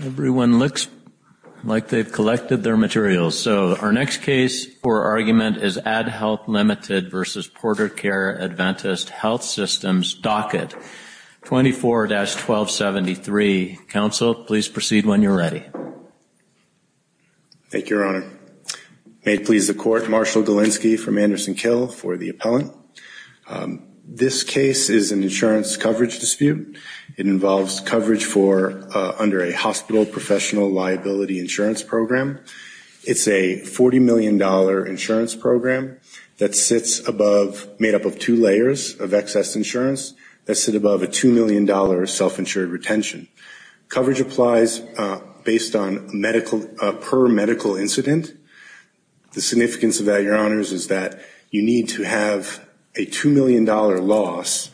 Everyone looks like they've collected their materials, so our next case for argument is AdHealth, Limited v. PorterCare Adventist Health Systems, docket 24-1273. Counsel, please proceed when you're ready. Thank you, Your Honor. May it please the Court, Marshall Galinsky from Anderson-Kill for the appellant. This case is an insurance coverage dispute. It involves coverage under a hospital professional liability insurance program. It's a $40 million insurance program that sits above, made up of two layers of excess insurance, that sit above a $2 million self-insured retention. Coverage applies based on medical, per medical incident. The significance of that, Your Honors, is that you need to have a $2 million loss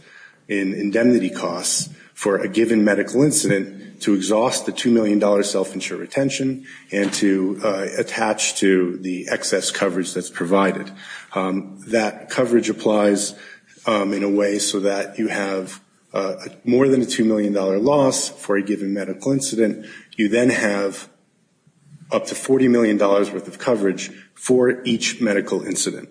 in indemnity costs for a given medical incident to exhaust the $2 million self-insured retention and to attach to the excess coverage that's provided. That coverage applies in a way so that you have more than a $2 million loss for a given medical incident. You then have up to $40 million worth of coverage for each medical incident.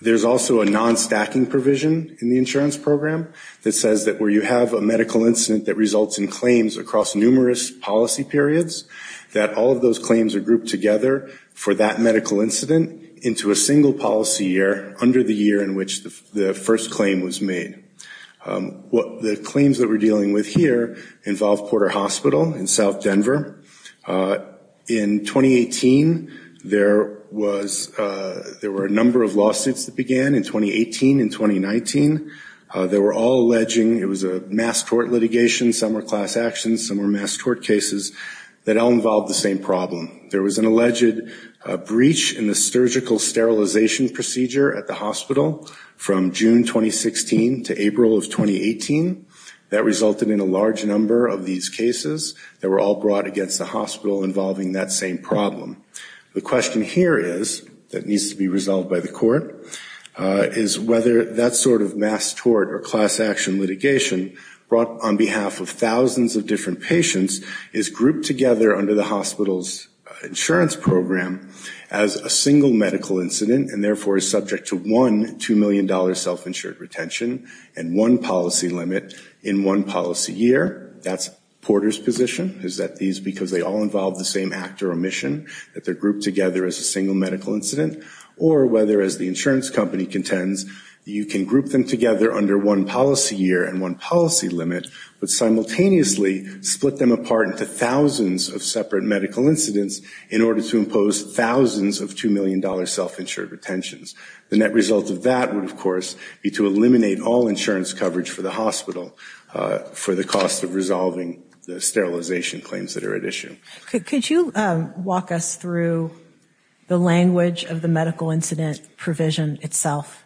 There's also a non-stacking provision in the insurance program that says that where you have a medical incident that results in claims across numerous policy periods, that all of those claims are grouped together for that medical incident into a single policy year under the year in which the first claim was made. The claims that we're dealing with here involve Porter Hospital in South Denver. In 2018, there were a number of lawsuits that began in 2018 and 2019. They were all alleging it was a mass court litigation, some were class actions, some were mass court cases that all involved the same problem. There was an alleged breach in the surgical sterilization procedure at the hospital from June 2016 to April of 2018. That resulted in a large number of these cases that were all brought against the hospital involving that same problem. The question here is, that needs to be resolved by the court, is whether that sort of mass tort or class action litigation brought on behalf of thousands of different patients is grouped together under the hospital's insurance program as a single medical incident and therefore is subject to one $2 million self-insured retention and one policy limit in one policy year. Whether that's Porter's position, is that these, because they all involve the same actor or mission, that they're grouped together as a single medical incident, or whether, as the insurance company contends, you can group them together under one policy year and one policy limit, but simultaneously split them apart into thousands of separate medical incidents in order to impose thousands of $2 million self-insured retentions. The net result of that would, of course, be to eliminate all insurance coverage for the hospital for the cost of resolving the sterilization claims that are at issue. Could you walk us through the language of the medical incident provision itself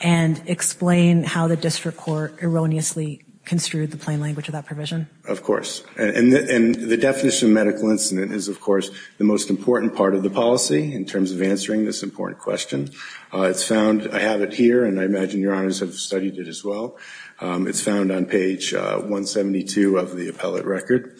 and explain how the district court erroneously construed the plain language of that provision? Of course. And the definition of medical incident is, of course, the most important part of the policy in terms of answering this important question. It's found, I have it here, and I imagine your honors have studied it as well. It's found on page 172 of the appellate record.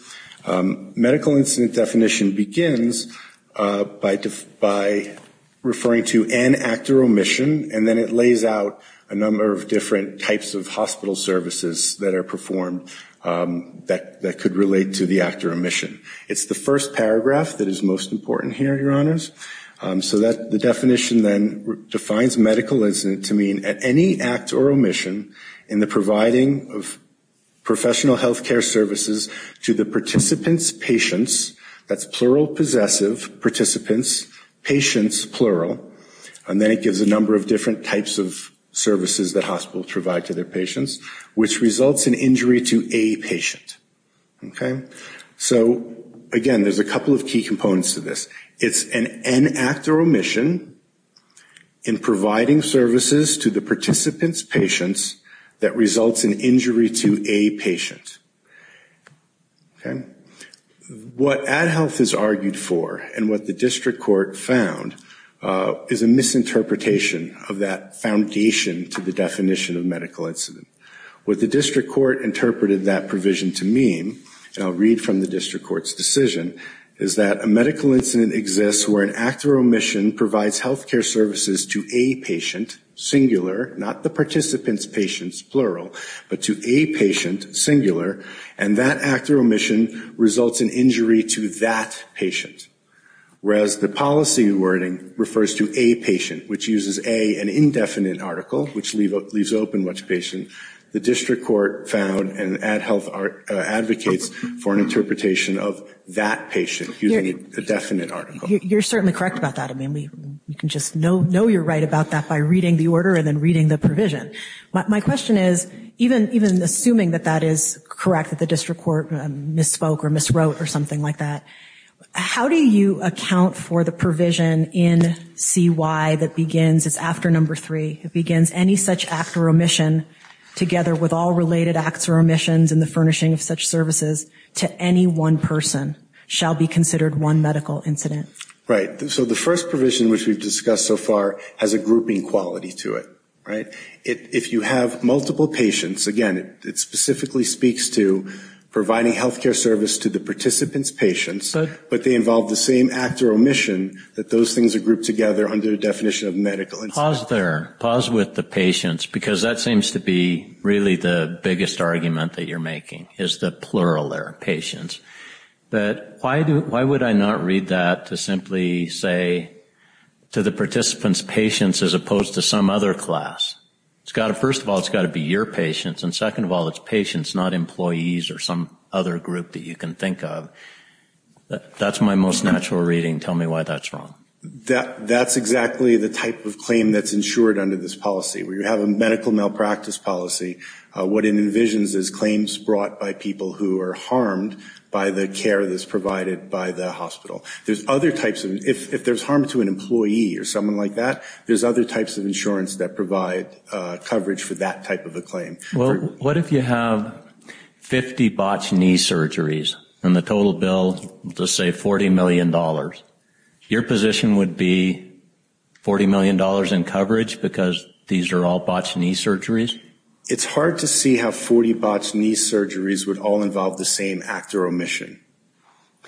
Medical incident definition begins by referring to an actor or mission, and then it lays out a number of different types of hospital services that are performed that could relate to the actor or mission. It's the first paragraph that is most important here, your honors. So the definition then defines medical incident to mean any act or omission in the providing of professional health care services to the participants, patients, that's plural possessive, participants, patients, plural, and then it gives a number of different types of services that hospitals provide to their patients, which results in injury to a patient. So, again, there's a couple of key components to this. It's an en act or omission in providing services to the participant's patients that results in injury to a patient. Okay? What Ad Health has argued for and what the district court found is a misinterpretation of that foundation to the definition of medical incident. What the district court interpreted that provision to mean, and I'll read from the district court's decision, is that a medical incident exists where an act or omission provides health care services to a patient, singular, not the participant's patients, plural, but to a patient, singular, and that act or omission results in injury to that patient. Whereas the policy wording refers to a patient, which uses a, an indefinite article, which leaves open which patient, the district court found and Ad Health advocates for an interpretation of that patient using a definite article. You're certainly correct about that. I mean, we can just know you're right about that by reading the order and then reading the provision. My question is, even assuming that that is correct, that the district court misspoke or miswrote or something like that, how do you account for the provision in C.Y. that begins, it's after number three, it begins any such act or omission together with all related acts or omissions in the furnishing of such services to any one person shall be considered one medical incident? Right. So the first provision, which we've discussed so far, has a grouping quality to it, right? If you have multiple patients, again, it specifically speaks to providing health care service to the participant's patients, but they involve the same act or omission that those things are grouped together under the definition of medical incident. Pause there, pause with the patients, because that seems to be really the biggest argument that you're making, is the plural there, patients. But why would I not read that to simply say to the participant's patients as opposed to some other class? First of all, it's got to be your patients. And second of all, it's patients, not employees or some other group that you can think of. That's my most natural reading. Tell me why that's wrong. That's exactly the type of claim that's insured under this policy. We have a medical malpractice policy. What it envisions is claims brought by people who are harmed by the care that's provided by the hospital. If there's harm to an employee or someone like that, there's other types of insurance that provide coverage for that type of a claim. Well, what if you have 50 botched knee surgeries and the total bill, let's say, $40 million? Your position would be $40 million in coverage because these are all botched knee surgeries? It's hard to see how 40 botched knee surgeries would all involve the same act or omission.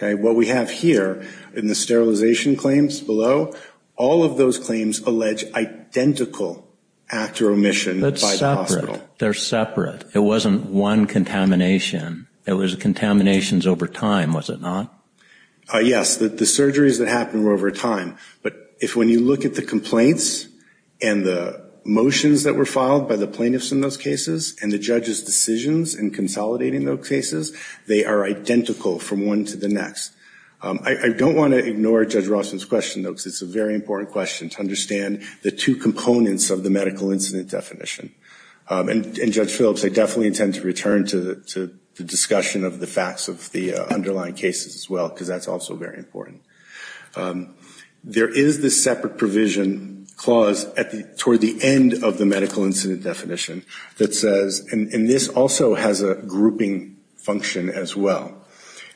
What we have here in the sterilization claims below, all of those claims allege identical act or omission by the hospital. They're separate. It wasn't one contamination. It was contaminations over time, was it not? Yes. The surgeries that happened were over time. But if when you look at the complaints and the motions that were filed by the plaintiffs in those cases and the judge's decisions in consolidating those cases, they are identical from one to the next. I don't want to ignore Judge Rossman's question, though, because it's a very important question to understand the two components of the medical incident definition. And Judge Phillips, I definitely intend to return to the discussion of the facts of the underlying cases as well, because that's also very important. There is this separate provision clause toward the end of the medical incident definition that says, and this also has a grouping function as well.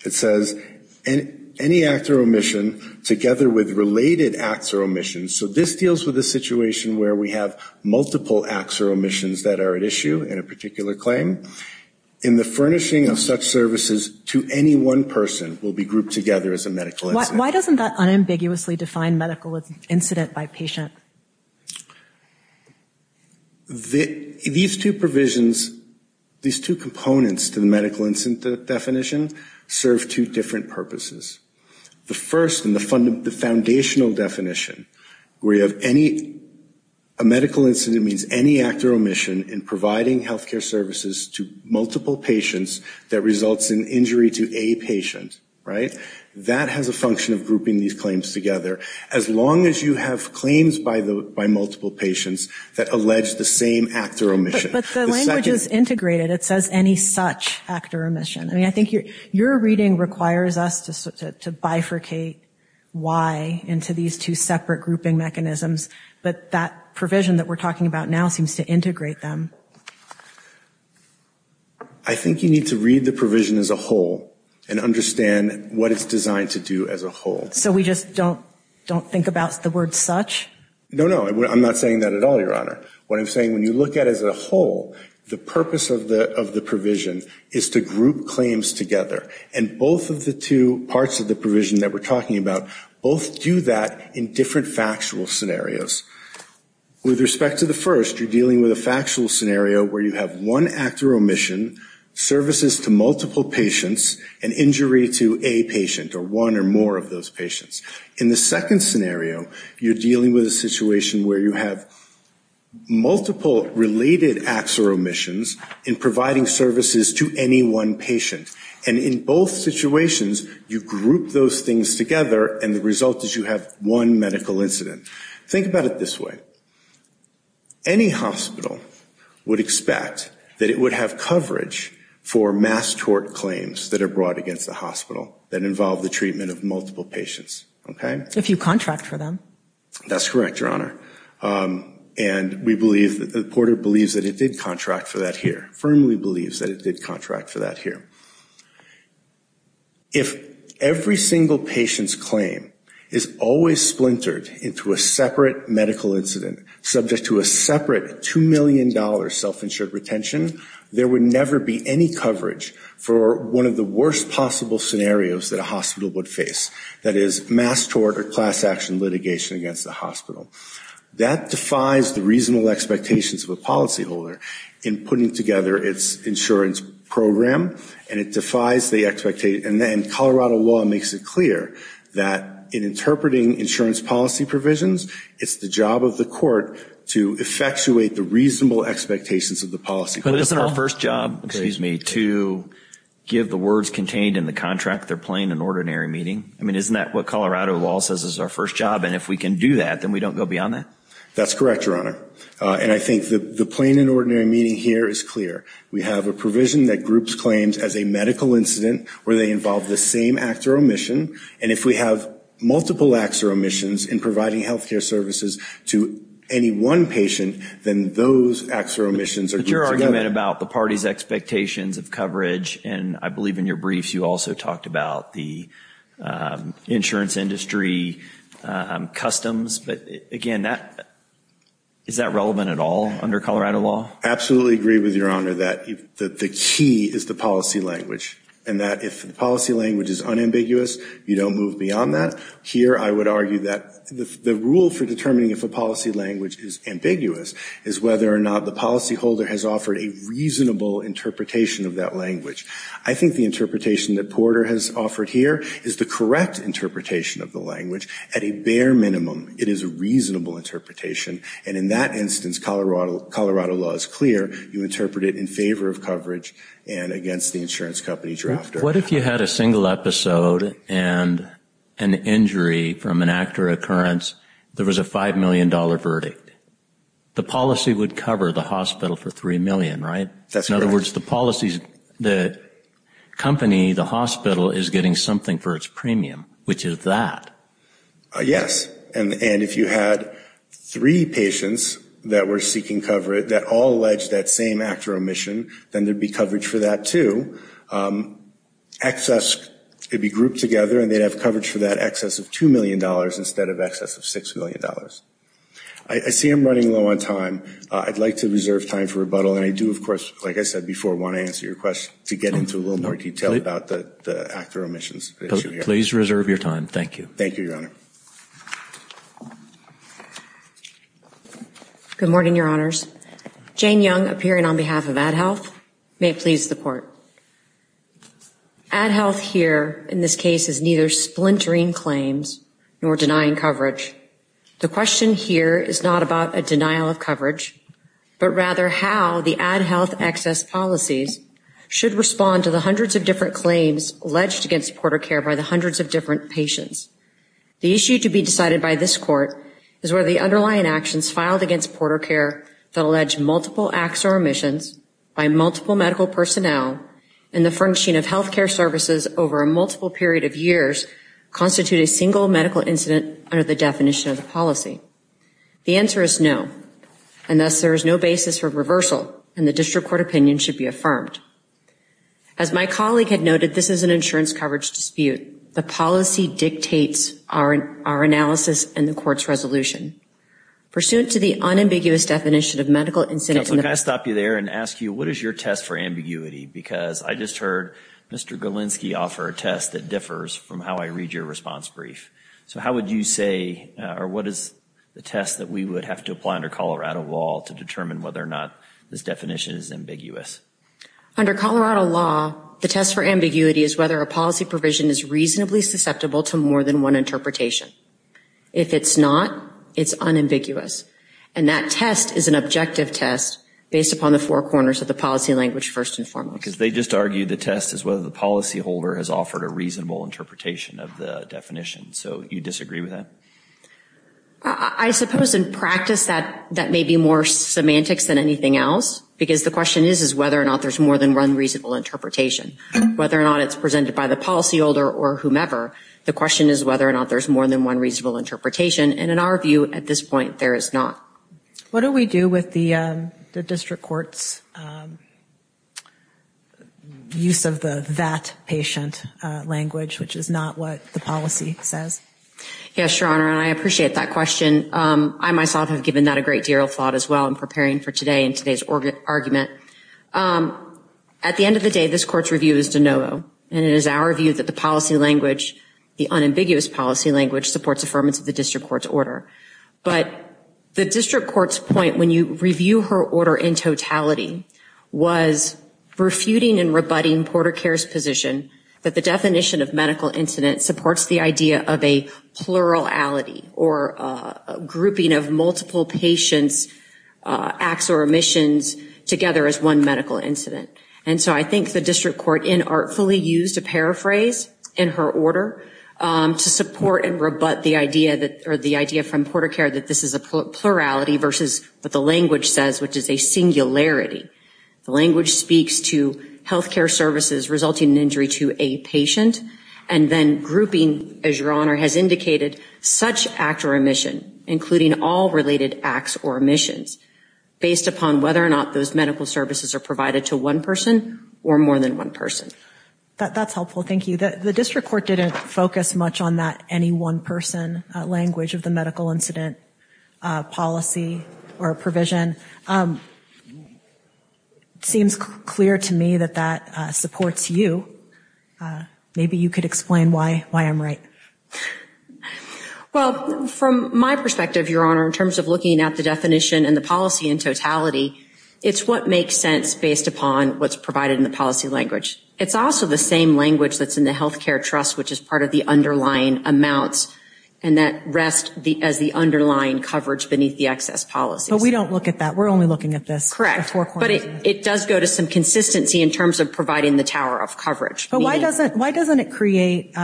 It says any act or omission together with related acts or omissions. So this deals with a situation where we have multiple acts or omissions that are at issue in a particular claim. And the furnishing of such services to any one person will be grouped together as a medical incident. Why doesn't that unambiguously define medical incident by patient? These two provisions, these two components to the medical incident definition serve two different purposes. The first and the foundational definition where you have any, a medical incident means any act or omission in providing health care services to multiple patients that results in injury to a patient, right? That has a function of grouping these claims together, as long as you have claims by multiple patients that allege the same act or omission. But the language is integrated. It says any such act or omission. I mean, I think your reading requires us to bifurcate why into these two separate grouping mechanisms, but that provision that we're talking about now seems to integrate them. I think you need to read the provision as a whole and understand what it's designed to do as a whole. So we just don't think about the word such? No, no. I'm not saying that at all, Your Honor. What I'm saying, when you look at it as a whole, the purpose of the provision is to group claims together. And both of the two parts of the provision that we're talking about, both do that in different factual scenarios. With respect to the first, you're dealing with a factual scenario where you have one act or omission, services to multiple patients, and injury to a patient or one or more of those patients. In the second scenario, you're dealing with a situation where you have multiple related acts or omissions in providing services to any one patient. And in both situations, you group those things together, and the result is you have one medical incident. Think about it this way. Any hospital would expect that it would have coverage for mass tort claims that are brought against the hospital that involve the treatment of multiple patients, okay? If you contract for them. That's correct, Your Honor. And we believe, Porter believes that it did contract for that here. Firmly believes that it did contract for that here. If every single patient's claim is always splintered into a separate medical incident, subject to a separate $2 million self-insured retention, there would never be any coverage for one of the worst possible scenarios that a hospital would face. That is, mass tort or class action litigation against the hospital. That defies the reasonable expectations of a policyholder in putting together its insurance program, and it defies the expectation. And Colorado law makes it clear that in interpreting insurance policy provisions, it's the job of the court to effectuate the reasonable expectations of the policy. But isn't our first job, excuse me, to give the words contained in the contract their plain and ordinary meaning? I mean, isn't that what Colorado law says is our first job? And if we can do that, then we don't go beyond that? That's correct, Your Honor. And I think the plain and ordinary meaning here is clear. We have a provision that groups claims as a medical incident where they involve the same act or omission, and if we have multiple acts or omissions in providing health care services to any one patient, then those acts or omissions are grouped together. But your argument about the party's expectations of coverage, and I believe in your briefs you also talked about the insurance industry, customs. But, again, is that relevant at all under Colorado law? I absolutely agree with Your Honor that the key is the policy language, and that if the policy language is unambiguous, you don't move beyond that. Here I would argue that the rule for determining if a policy language is ambiguous is whether or not the policyholder has offered a reasonable interpretation of that language. I think the interpretation that Porter has offered here is the correct interpretation of the language. At a bare minimum, it is a reasonable interpretation, and in that instance Colorado law is clear. You interpret it in favor of coverage and against the insurance company's drafter. What if you had a single episode and an injury from an act or occurrence? There was a $5 million verdict. The policy would cover the hospital for $3 million, right? That's correct. In other words, the company, the hospital, is getting something for its premium, which is that. Yes. And if you had three patients that were seeking coverage that all alleged that same act or omission, then there would be coverage for that, too. Excess would be grouped together, and they'd have coverage for that excess of $2 million instead of excess of $6 million. I see I'm running low on time. I'd like to reserve time for rebuttal, and I do, of course, like I said before, want to answer your question to get into a little more detail about the act or omissions issue here. Please reserve your time. Thank you. Thank you, Your Honor. Good morning, Your Honors. Jane Young, appearing on behalf of Ad Health. May it please the Court. Ad Health here in this case is neither splintering claims nor denying coverage. The question here is not about a denial of coverage, but rather how the Ad Health excess policies should respond to the hundreds of different claims alleged against PorterCare by the hundreds of different patients. The issue to be decided by this Court is whether the underlying actions filed against PorterCare that allege multiple acts or omissions by multiple medical personnel and the functioning of health care services over a multiple period of years constitute a single medical incident under the definition of the policy. The answer is no, and thus there is no basis for reversal, and the district court opinion should be affirmed. As my colleague had noted, this is an insurance coverage dispute. The policy dictates our analysis and the Court's resolution. Pursuant to the unambiguous definition of medical incident in the- Counsel, can I stop you there and ask you, what is your test for ambiguity? Because I just heard Mr. Galinsky offer a test that differs from how I read your response brief. So how would you say, or what is the test that we would have to apply under Colorado law to determine whether or not this definition is ambiguous? Under Colorado law, the test for ambiguity is whether a policy provision is reasonably susceptible to more than one interpretation. If it's not, it's unambiguous, and that test is an objective test based upon the four corners of the policy language first and foremost. Because they just argued the test is whether the policyholder has offered a reasonable interpretation of the definition, so you disagree with that? I suppose in practice that may be more semantics than anything else, because the question is whether or not there's more than one reasonable interpretation. Whether or not it's presented by the policyholder or whomever, the question is whether or not there's more than one reasonable interpretation, and in our view, at this point, there is not. What do we do with the district court's use of the that patient language, which is not what the policy says? Yes, Your Honor, and I appreciate that question. I myself have given that a great deal of thought as well in preparing for today and today's argument. At the end of the day, this Court's review is de novo, and it is our view that the policy language, the unambiguous policy language, supports affirmance of the district court's order. But the district court's point when you review her order in totality was refuting and rebutting Porter Care's position that the definition of medical incident supports the idea of a plurality or a grouping of multiple patients' acts or omissions together as one medical incident. And so I think the district court inartfully used a paraphrase in her order to support and rebut the idea from Porter Care that this is a plurality versus what the language says, which is a singularity. The language speaks to health care services resulting in injury to a patient, and then grouping, as Your Honor has indicated, such act or omission, including all related acts or omissions, based upon whether or not those medical services are provided to one person or more than one person. That's helpful. Thank you. The district court didn't focus much on that any one person language of the medical incident policy or provision. It seems clear to me that that supports you. Maybe you could explain why I'm right. Well, from my perspective, Your Honor, in terms of looking at the definition and the policy in totality, it's what makes sense based upon what's provided in the policy language. It's also the same language that's in the health care trust, which is part of the underlying amounts, and that rests as the underlying coverage beneath the excess policies. But we don't look at that. We're only looking at this. Correct. But it does go to some consistency in terms of providing the tower of coverage. But why doesn't it create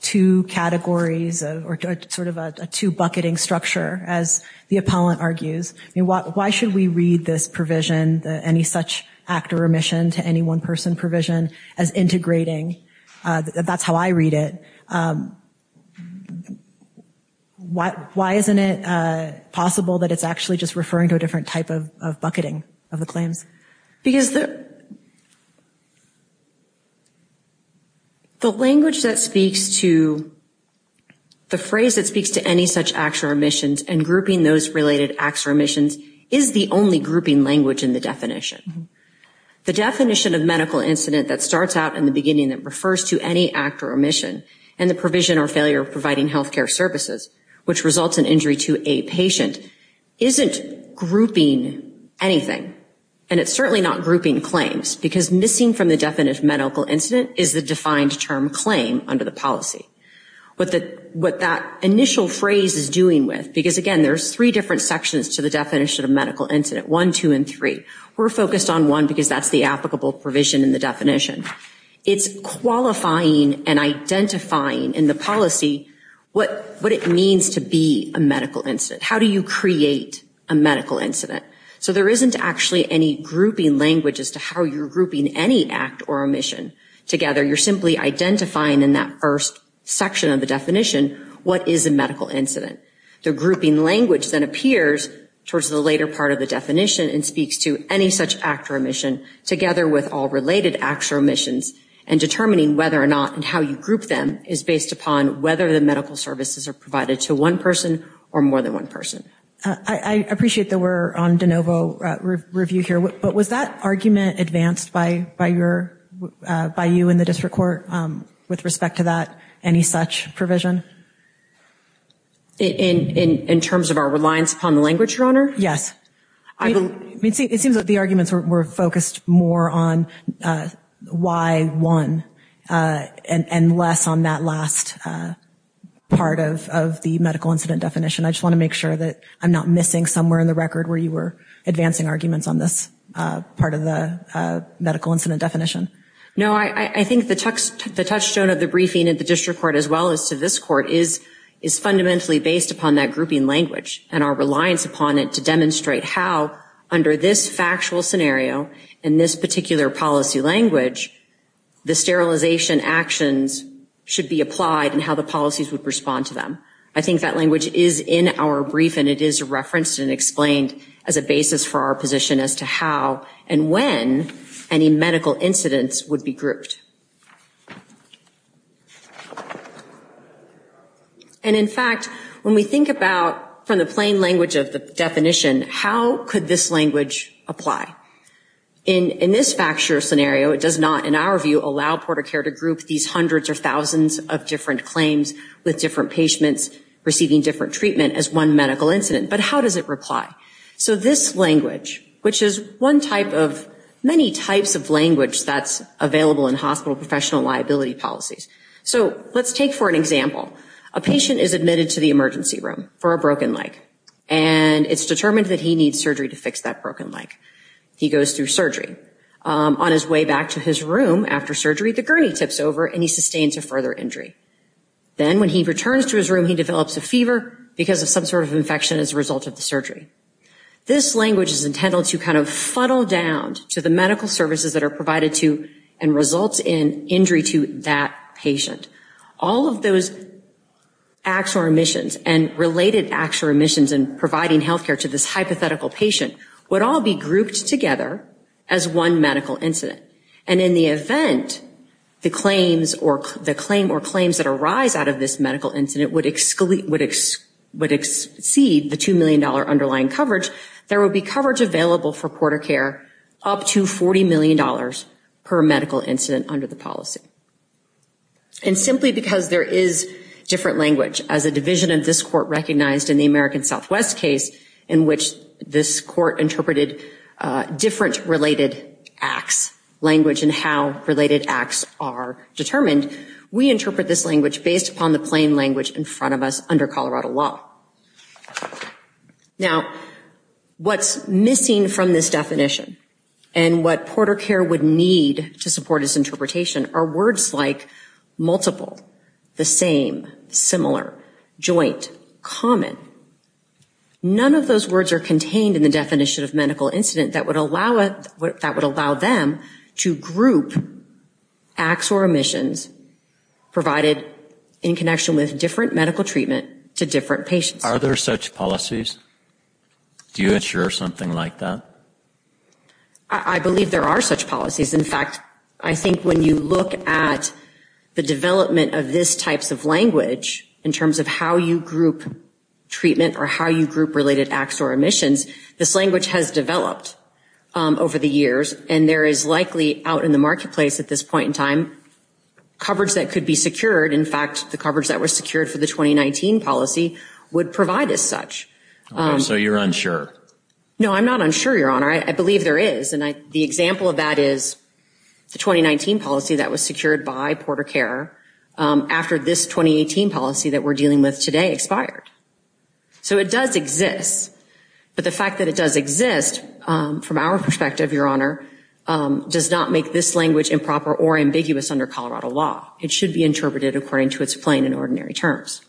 two categories or sort of a two-bucketing structure, as the appellant argues? Why should we read this provision, any such act or omission, to any one-person provision as integrating? That's how I read it. Why isn't it possible that it's actually just referring to a different type of bucketing of the claims? Because the language that speaks to the phrase that speaks to any such act or omission and grouping those related acts or omissions is the only grouping language in the definition. The definition of medical incident that starts out in the beginning that refers to any act or omission, and the provision or failure of providing health care services, which results in injury to a patient, isn't grouping anything. And it's certainly not grouping claims, because missing from the definition of medical incident is the defined term claim under the policy. What that initial phrase is doing with, because, again, there's three different sections to the definition of medical incident, one, two, and three. We're focused on one because that's the applicable provision in the definition. It's qualifying and identifying in the policy what it means to be a medical incident. How do you create a medical incident? So there isn't actually any grouping language as to how you're grouping any act or omission together. You're simply identifying in that first section of the definition what is a medical incident. The grouping language then appears towards the later part of the definition and speaks to any such act or omission, together with all related act or omissions, and determining whether or not and how you group them is based upon whether the medical services are provided to one person or more than one person. I appreciate that we're on de novo review here, but was that argument advanced by you in the district court with respect to that, any such provision? In terms of our reliance upon the language, Your Honor? Yes. It seems that the arguments were focused more on why one and less on that last part of the medical incident definition. I just want to make sure that I'm not missing somewhere in the record where you were advancing arguments on this part of the medical incident definition. No, I think the touchstone of the briefing at the district court as well as to this court is fundamentally based upon that grouping language and our reliance upon it to demonstrate how, under this factual scenario and this particular policy language, the sterilization actions should be applied and how the policies would respond to them. I think that language is in our briefing. It is referenced and explained as a basis for our position as to how and when any medical incidents would be grouped. And, in fact, when we think about from the plain language of the definition, how could this language apply? In this factual scenario, it does not, in our view, allow Porter Care to group these hundreds or thousands of different claims with different patients receiving different treatment as one medical incident. But how does it reply? So this language, which is one type of many types of language that's available in hospital professional liability policies. So let's take for an example. A patient is admitted to the emergency room for a broken leg, and it's determined that he needs surgery to fix that broken leg. He goes through surgery. On his way back to his room after surgery, the gurney tips over and he sustains a further injury. Then when he returns to his room, he develops a fever because of some sort of infection as a result of the surgery. This language is intended to kind of funnel down to the medical services that are provided to and result in injury to that patient. All of those actual remissions and related actual remissions in providing health care to this hypothetical patient would all be grouped together as one medical incident. And in the event the claim or claims that arise out of this medical incident would exceed the $2 million underlying coverage, there would be coverage available for PorterCare up to $40 million per medical incident under the policy. And simply because there is different language as a division of this court recognized in the American Southwest case in which this court interpreted different related acts, language, and how related acts are determined, we interpret this language based upon the plain language in front of us under Colorado law. Now, what's missing from this definition and what PorterCare would need to support this interpretation are words like multiple, the same, similar, joint, common. None of those words are contained in the definition of medical incident that would allow them to group acts or remissions provided in connection with different medical treatment to different patients. Are there such policies? Do you insure something like that? I believe there are such policies. In fact, I think when you look at the development of this types of language in terms of how you group treatment or how you group related acts or remissions, this language has developed over the years. And there is likely out in the marketplace at this point in time coverage that could be secured. In fact, the coverage that was secured for the 2019 policy would provide as such. So you're unsure? No, I'm not unsure, Your Honor. I believe there is. And the example of that is the 2019 policy that was secured by PorterCare after this 2018 policy that we're dealing with today expired. So it does exist. But the fact that it does exist from our perspective, Your Honor, does not make this language improper or ambiguous under Colorado law. It should be interpreted according to its plain and ordinary terms.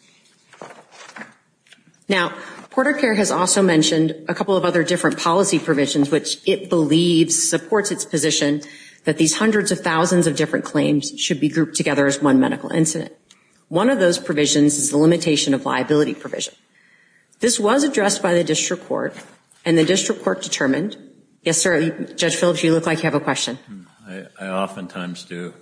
Now, PorterCare has also mentioned a couple of other different policy provisions which it believes supports its position that these hundreds of thousands of different claims should be grouped together as one medical incident. One of those provisions is the limitation of liability provision. This was addressed by the district court, and the district court determined. Yes, sir? Judge Phillips, you look like you have a question. I oftentimes do.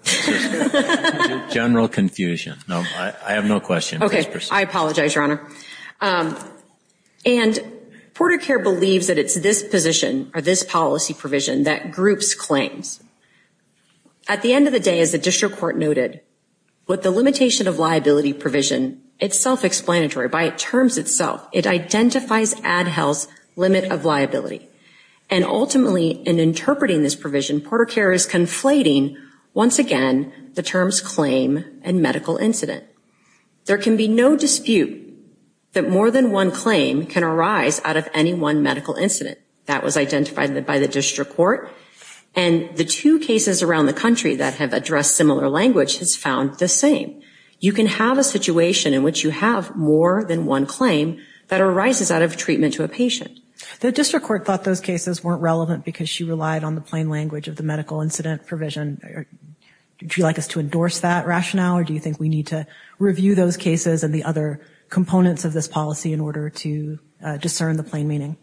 General confusion. No, I have no question. Okay, I apologize, Your Honor. And PorterCare believes that it's this position or this policy provision that groups claims. At the end of the day, as the district court noted, with the limitation of liability provision, it's self-explanatory. By its terms itself, it identifies ADHEL's limit of liability. And ultimately, in interpreting this provision, PorterCare is conflating, once again, the terms claim and medical incident. There can be no dispute that more than one claim can arise out of any one medical incident. That was identified by the district court, and the two cases around the country that have addressed similar language has found the same. You can have a situation in which you have more than one claim that arises out of treatment to a patient. The district court thought those cases weren't relevant because she relied on the plain language of the medical incident provision. Would you like us to endorse that rationale, or do you think we need to review those cases and the other components of this policy in order to discern the plain meaning?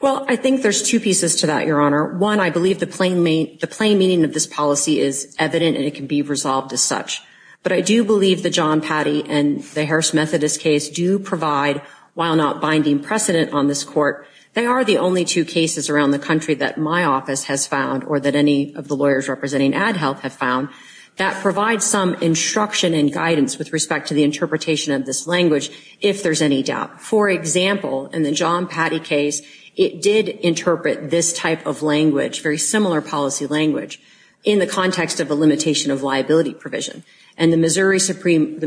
Well, I think there's two pieces to that, Your Honor. One, I believe the plain meaning of this policy is evident, and it can be resolved as such. But I do believe the John Patty and the Harris Methodist case do provide, while not binding precedent on this court, they are the only two cases around the country that my office has found or that any of the lawyers representing Ad Health have found that provide some instruction and guidance with respect to the interpretation of this language, if there's any doubt. For example, in the John Patty case, it did interpret this type of language, very similar policy language, in the context of a limitation of liability provision. And the Missouri Supreme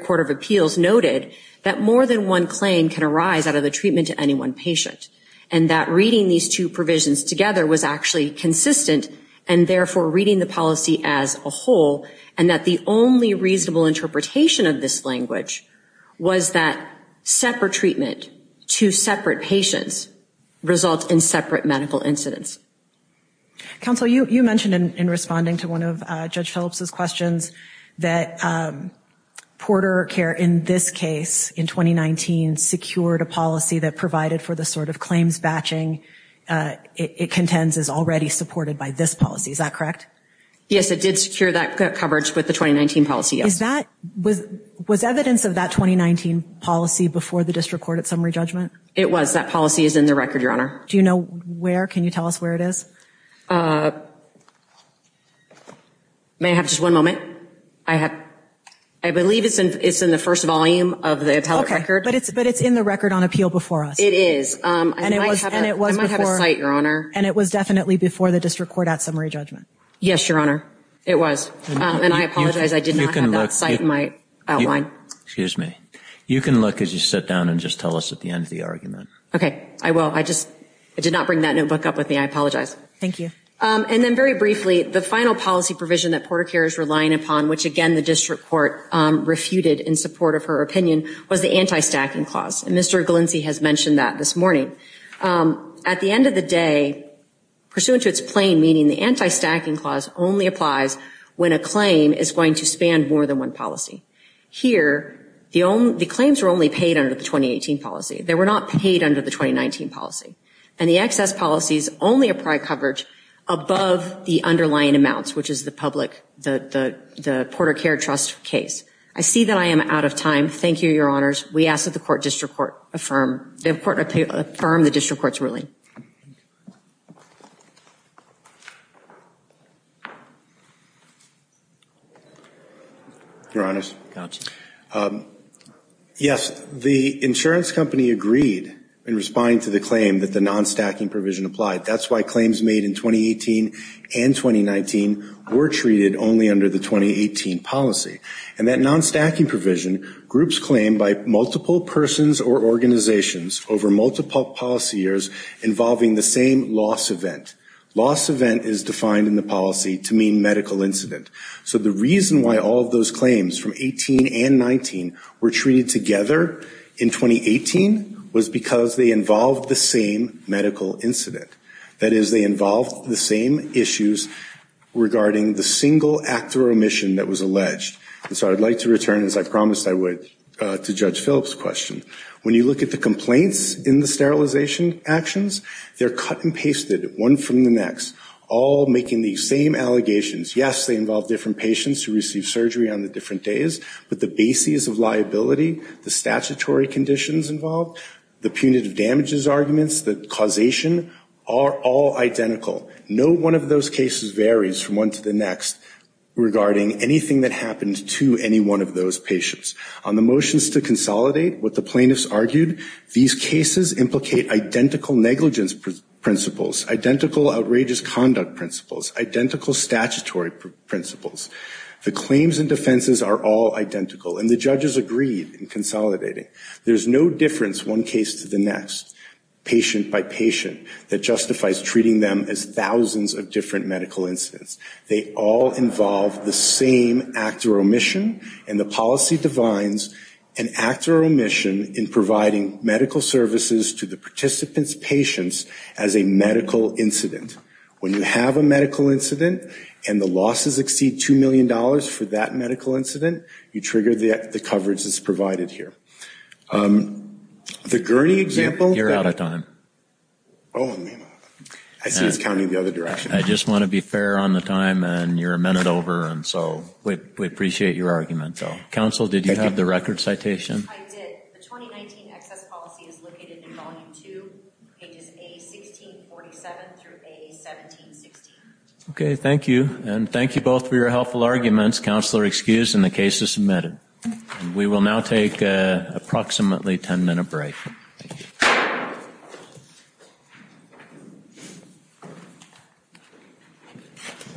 Court of Appeals noted that more than one claim can arise out of the treatment to any one patient and that reading these two provisions together was actually consistent and therefore reading the policy as a whole and that the only reasonable interpretation of this language was that separate treatment to separate patients results in separate medical incidents. Counsel, you mentioned in responding to one of Judge Phillips' questions that PorterCare, in this case, in 2019, secured a policy that provided for the sort of claims batching it contends is already supported by this policy. Is that correct? Yes, it did secure that coverage with the 2019 policy, yes. Was evidence of that 2019 policy before the district court at summary judgment? It was. That policy is in the record, Your Honor. Do you know where? Can you tell us where it is? May I have just one moment? I believe it's in the first volume of the appellate record. Okay, but it's in the record on appeal before us. It is. I might have a site, Your Honor. And it was definitely before the district court at summary judgment? Yes, Your Honor, it was. And I apologize, I did not have that site in my outline. Excuse me. You can look as you sit down and just tell us at the end of the argument. Okay, I will. I just did not bring that notebook up with me. I apologize. Thank you. And then very briefly, the final policy provision that PorterCare is relying upon, which again the district court refuted in support of her opinion, was the anti-stacking clause. And Mr. Galinzi has mentioned that this morning. At the end of the day, pursuant to its plain meaning, the anti-stacking clause only applies when a claim is going to span more than one policy. Here, the claims were only paid under the 2018 policy. They were not paid under the 2019 policy. And the excess policies only apply coverage above the underlying amounts, which is the public, the PorterCare trust case. I see that I am out of time. Thank you, Your Honors. We ask that the court affirm the district court's ruling. Thank you. Your Honors, yes, the insurance company agreed in responding to the claim that the non-stacking provision applied. That's why claims made in 2018 and 2019 were treated only under the 2018 policy. And that non-stacking provision groups claim by multiple persons or organizations over multiple policy years involving the same loss event. Loss event is defined in the policy to mean medical incident. So the reason why all of those claims from 18 and 19 were treated together in 2018 was because they involved the same medical incident. That is, they involved the same issues regarding the single act or omission that was alleged. And so I'd like to return, as I promised I would, to Judge Phillips' question. When you look at the complaints in the sterilization actions, they're cut and pasted one from the next, all making the same allegations. Yes, they involve different patients who receive surgery on the different days, but the bases of liability, the statutory conditions involved, the punitive damages arguments, the causation are all identical. No one of those cases varies from one to the next regarding anything that happened to any one of those patients. On the motions to consolidate, what the plaintiffs argued, these cases implicate identical negligence principles, identical outrageous conduct principles, identical statutory principles. The claims and defenses are all identical, and the judges agreed in consolidating. There's no difference one case to the next, patient by patient, that justifies treating them as thousands of different medical incidents. They all involve the same act or omission, and the policy defines an act or omission in providing medical services to the participant's patients as a medical incident. When you have a medical incident, and the losses exceed $2 million for that medical incident, you trigger the coverage that's provided here. The Gurney example... You're out of time. Oh, am I? I see it's counting the other direction. I just want to be fair on the time, and you're a minute over, and so we appreciate your argument, though. Counsel, did you have the record citation? I did. The 2019 excess policy is located in Volume 2, pages A1647 through A1716. Okay, thank you. And thank you both for your helpful arguments. Counsel are excused, and the case is submitted. We will now take approximately a 10-minute break. Thank you.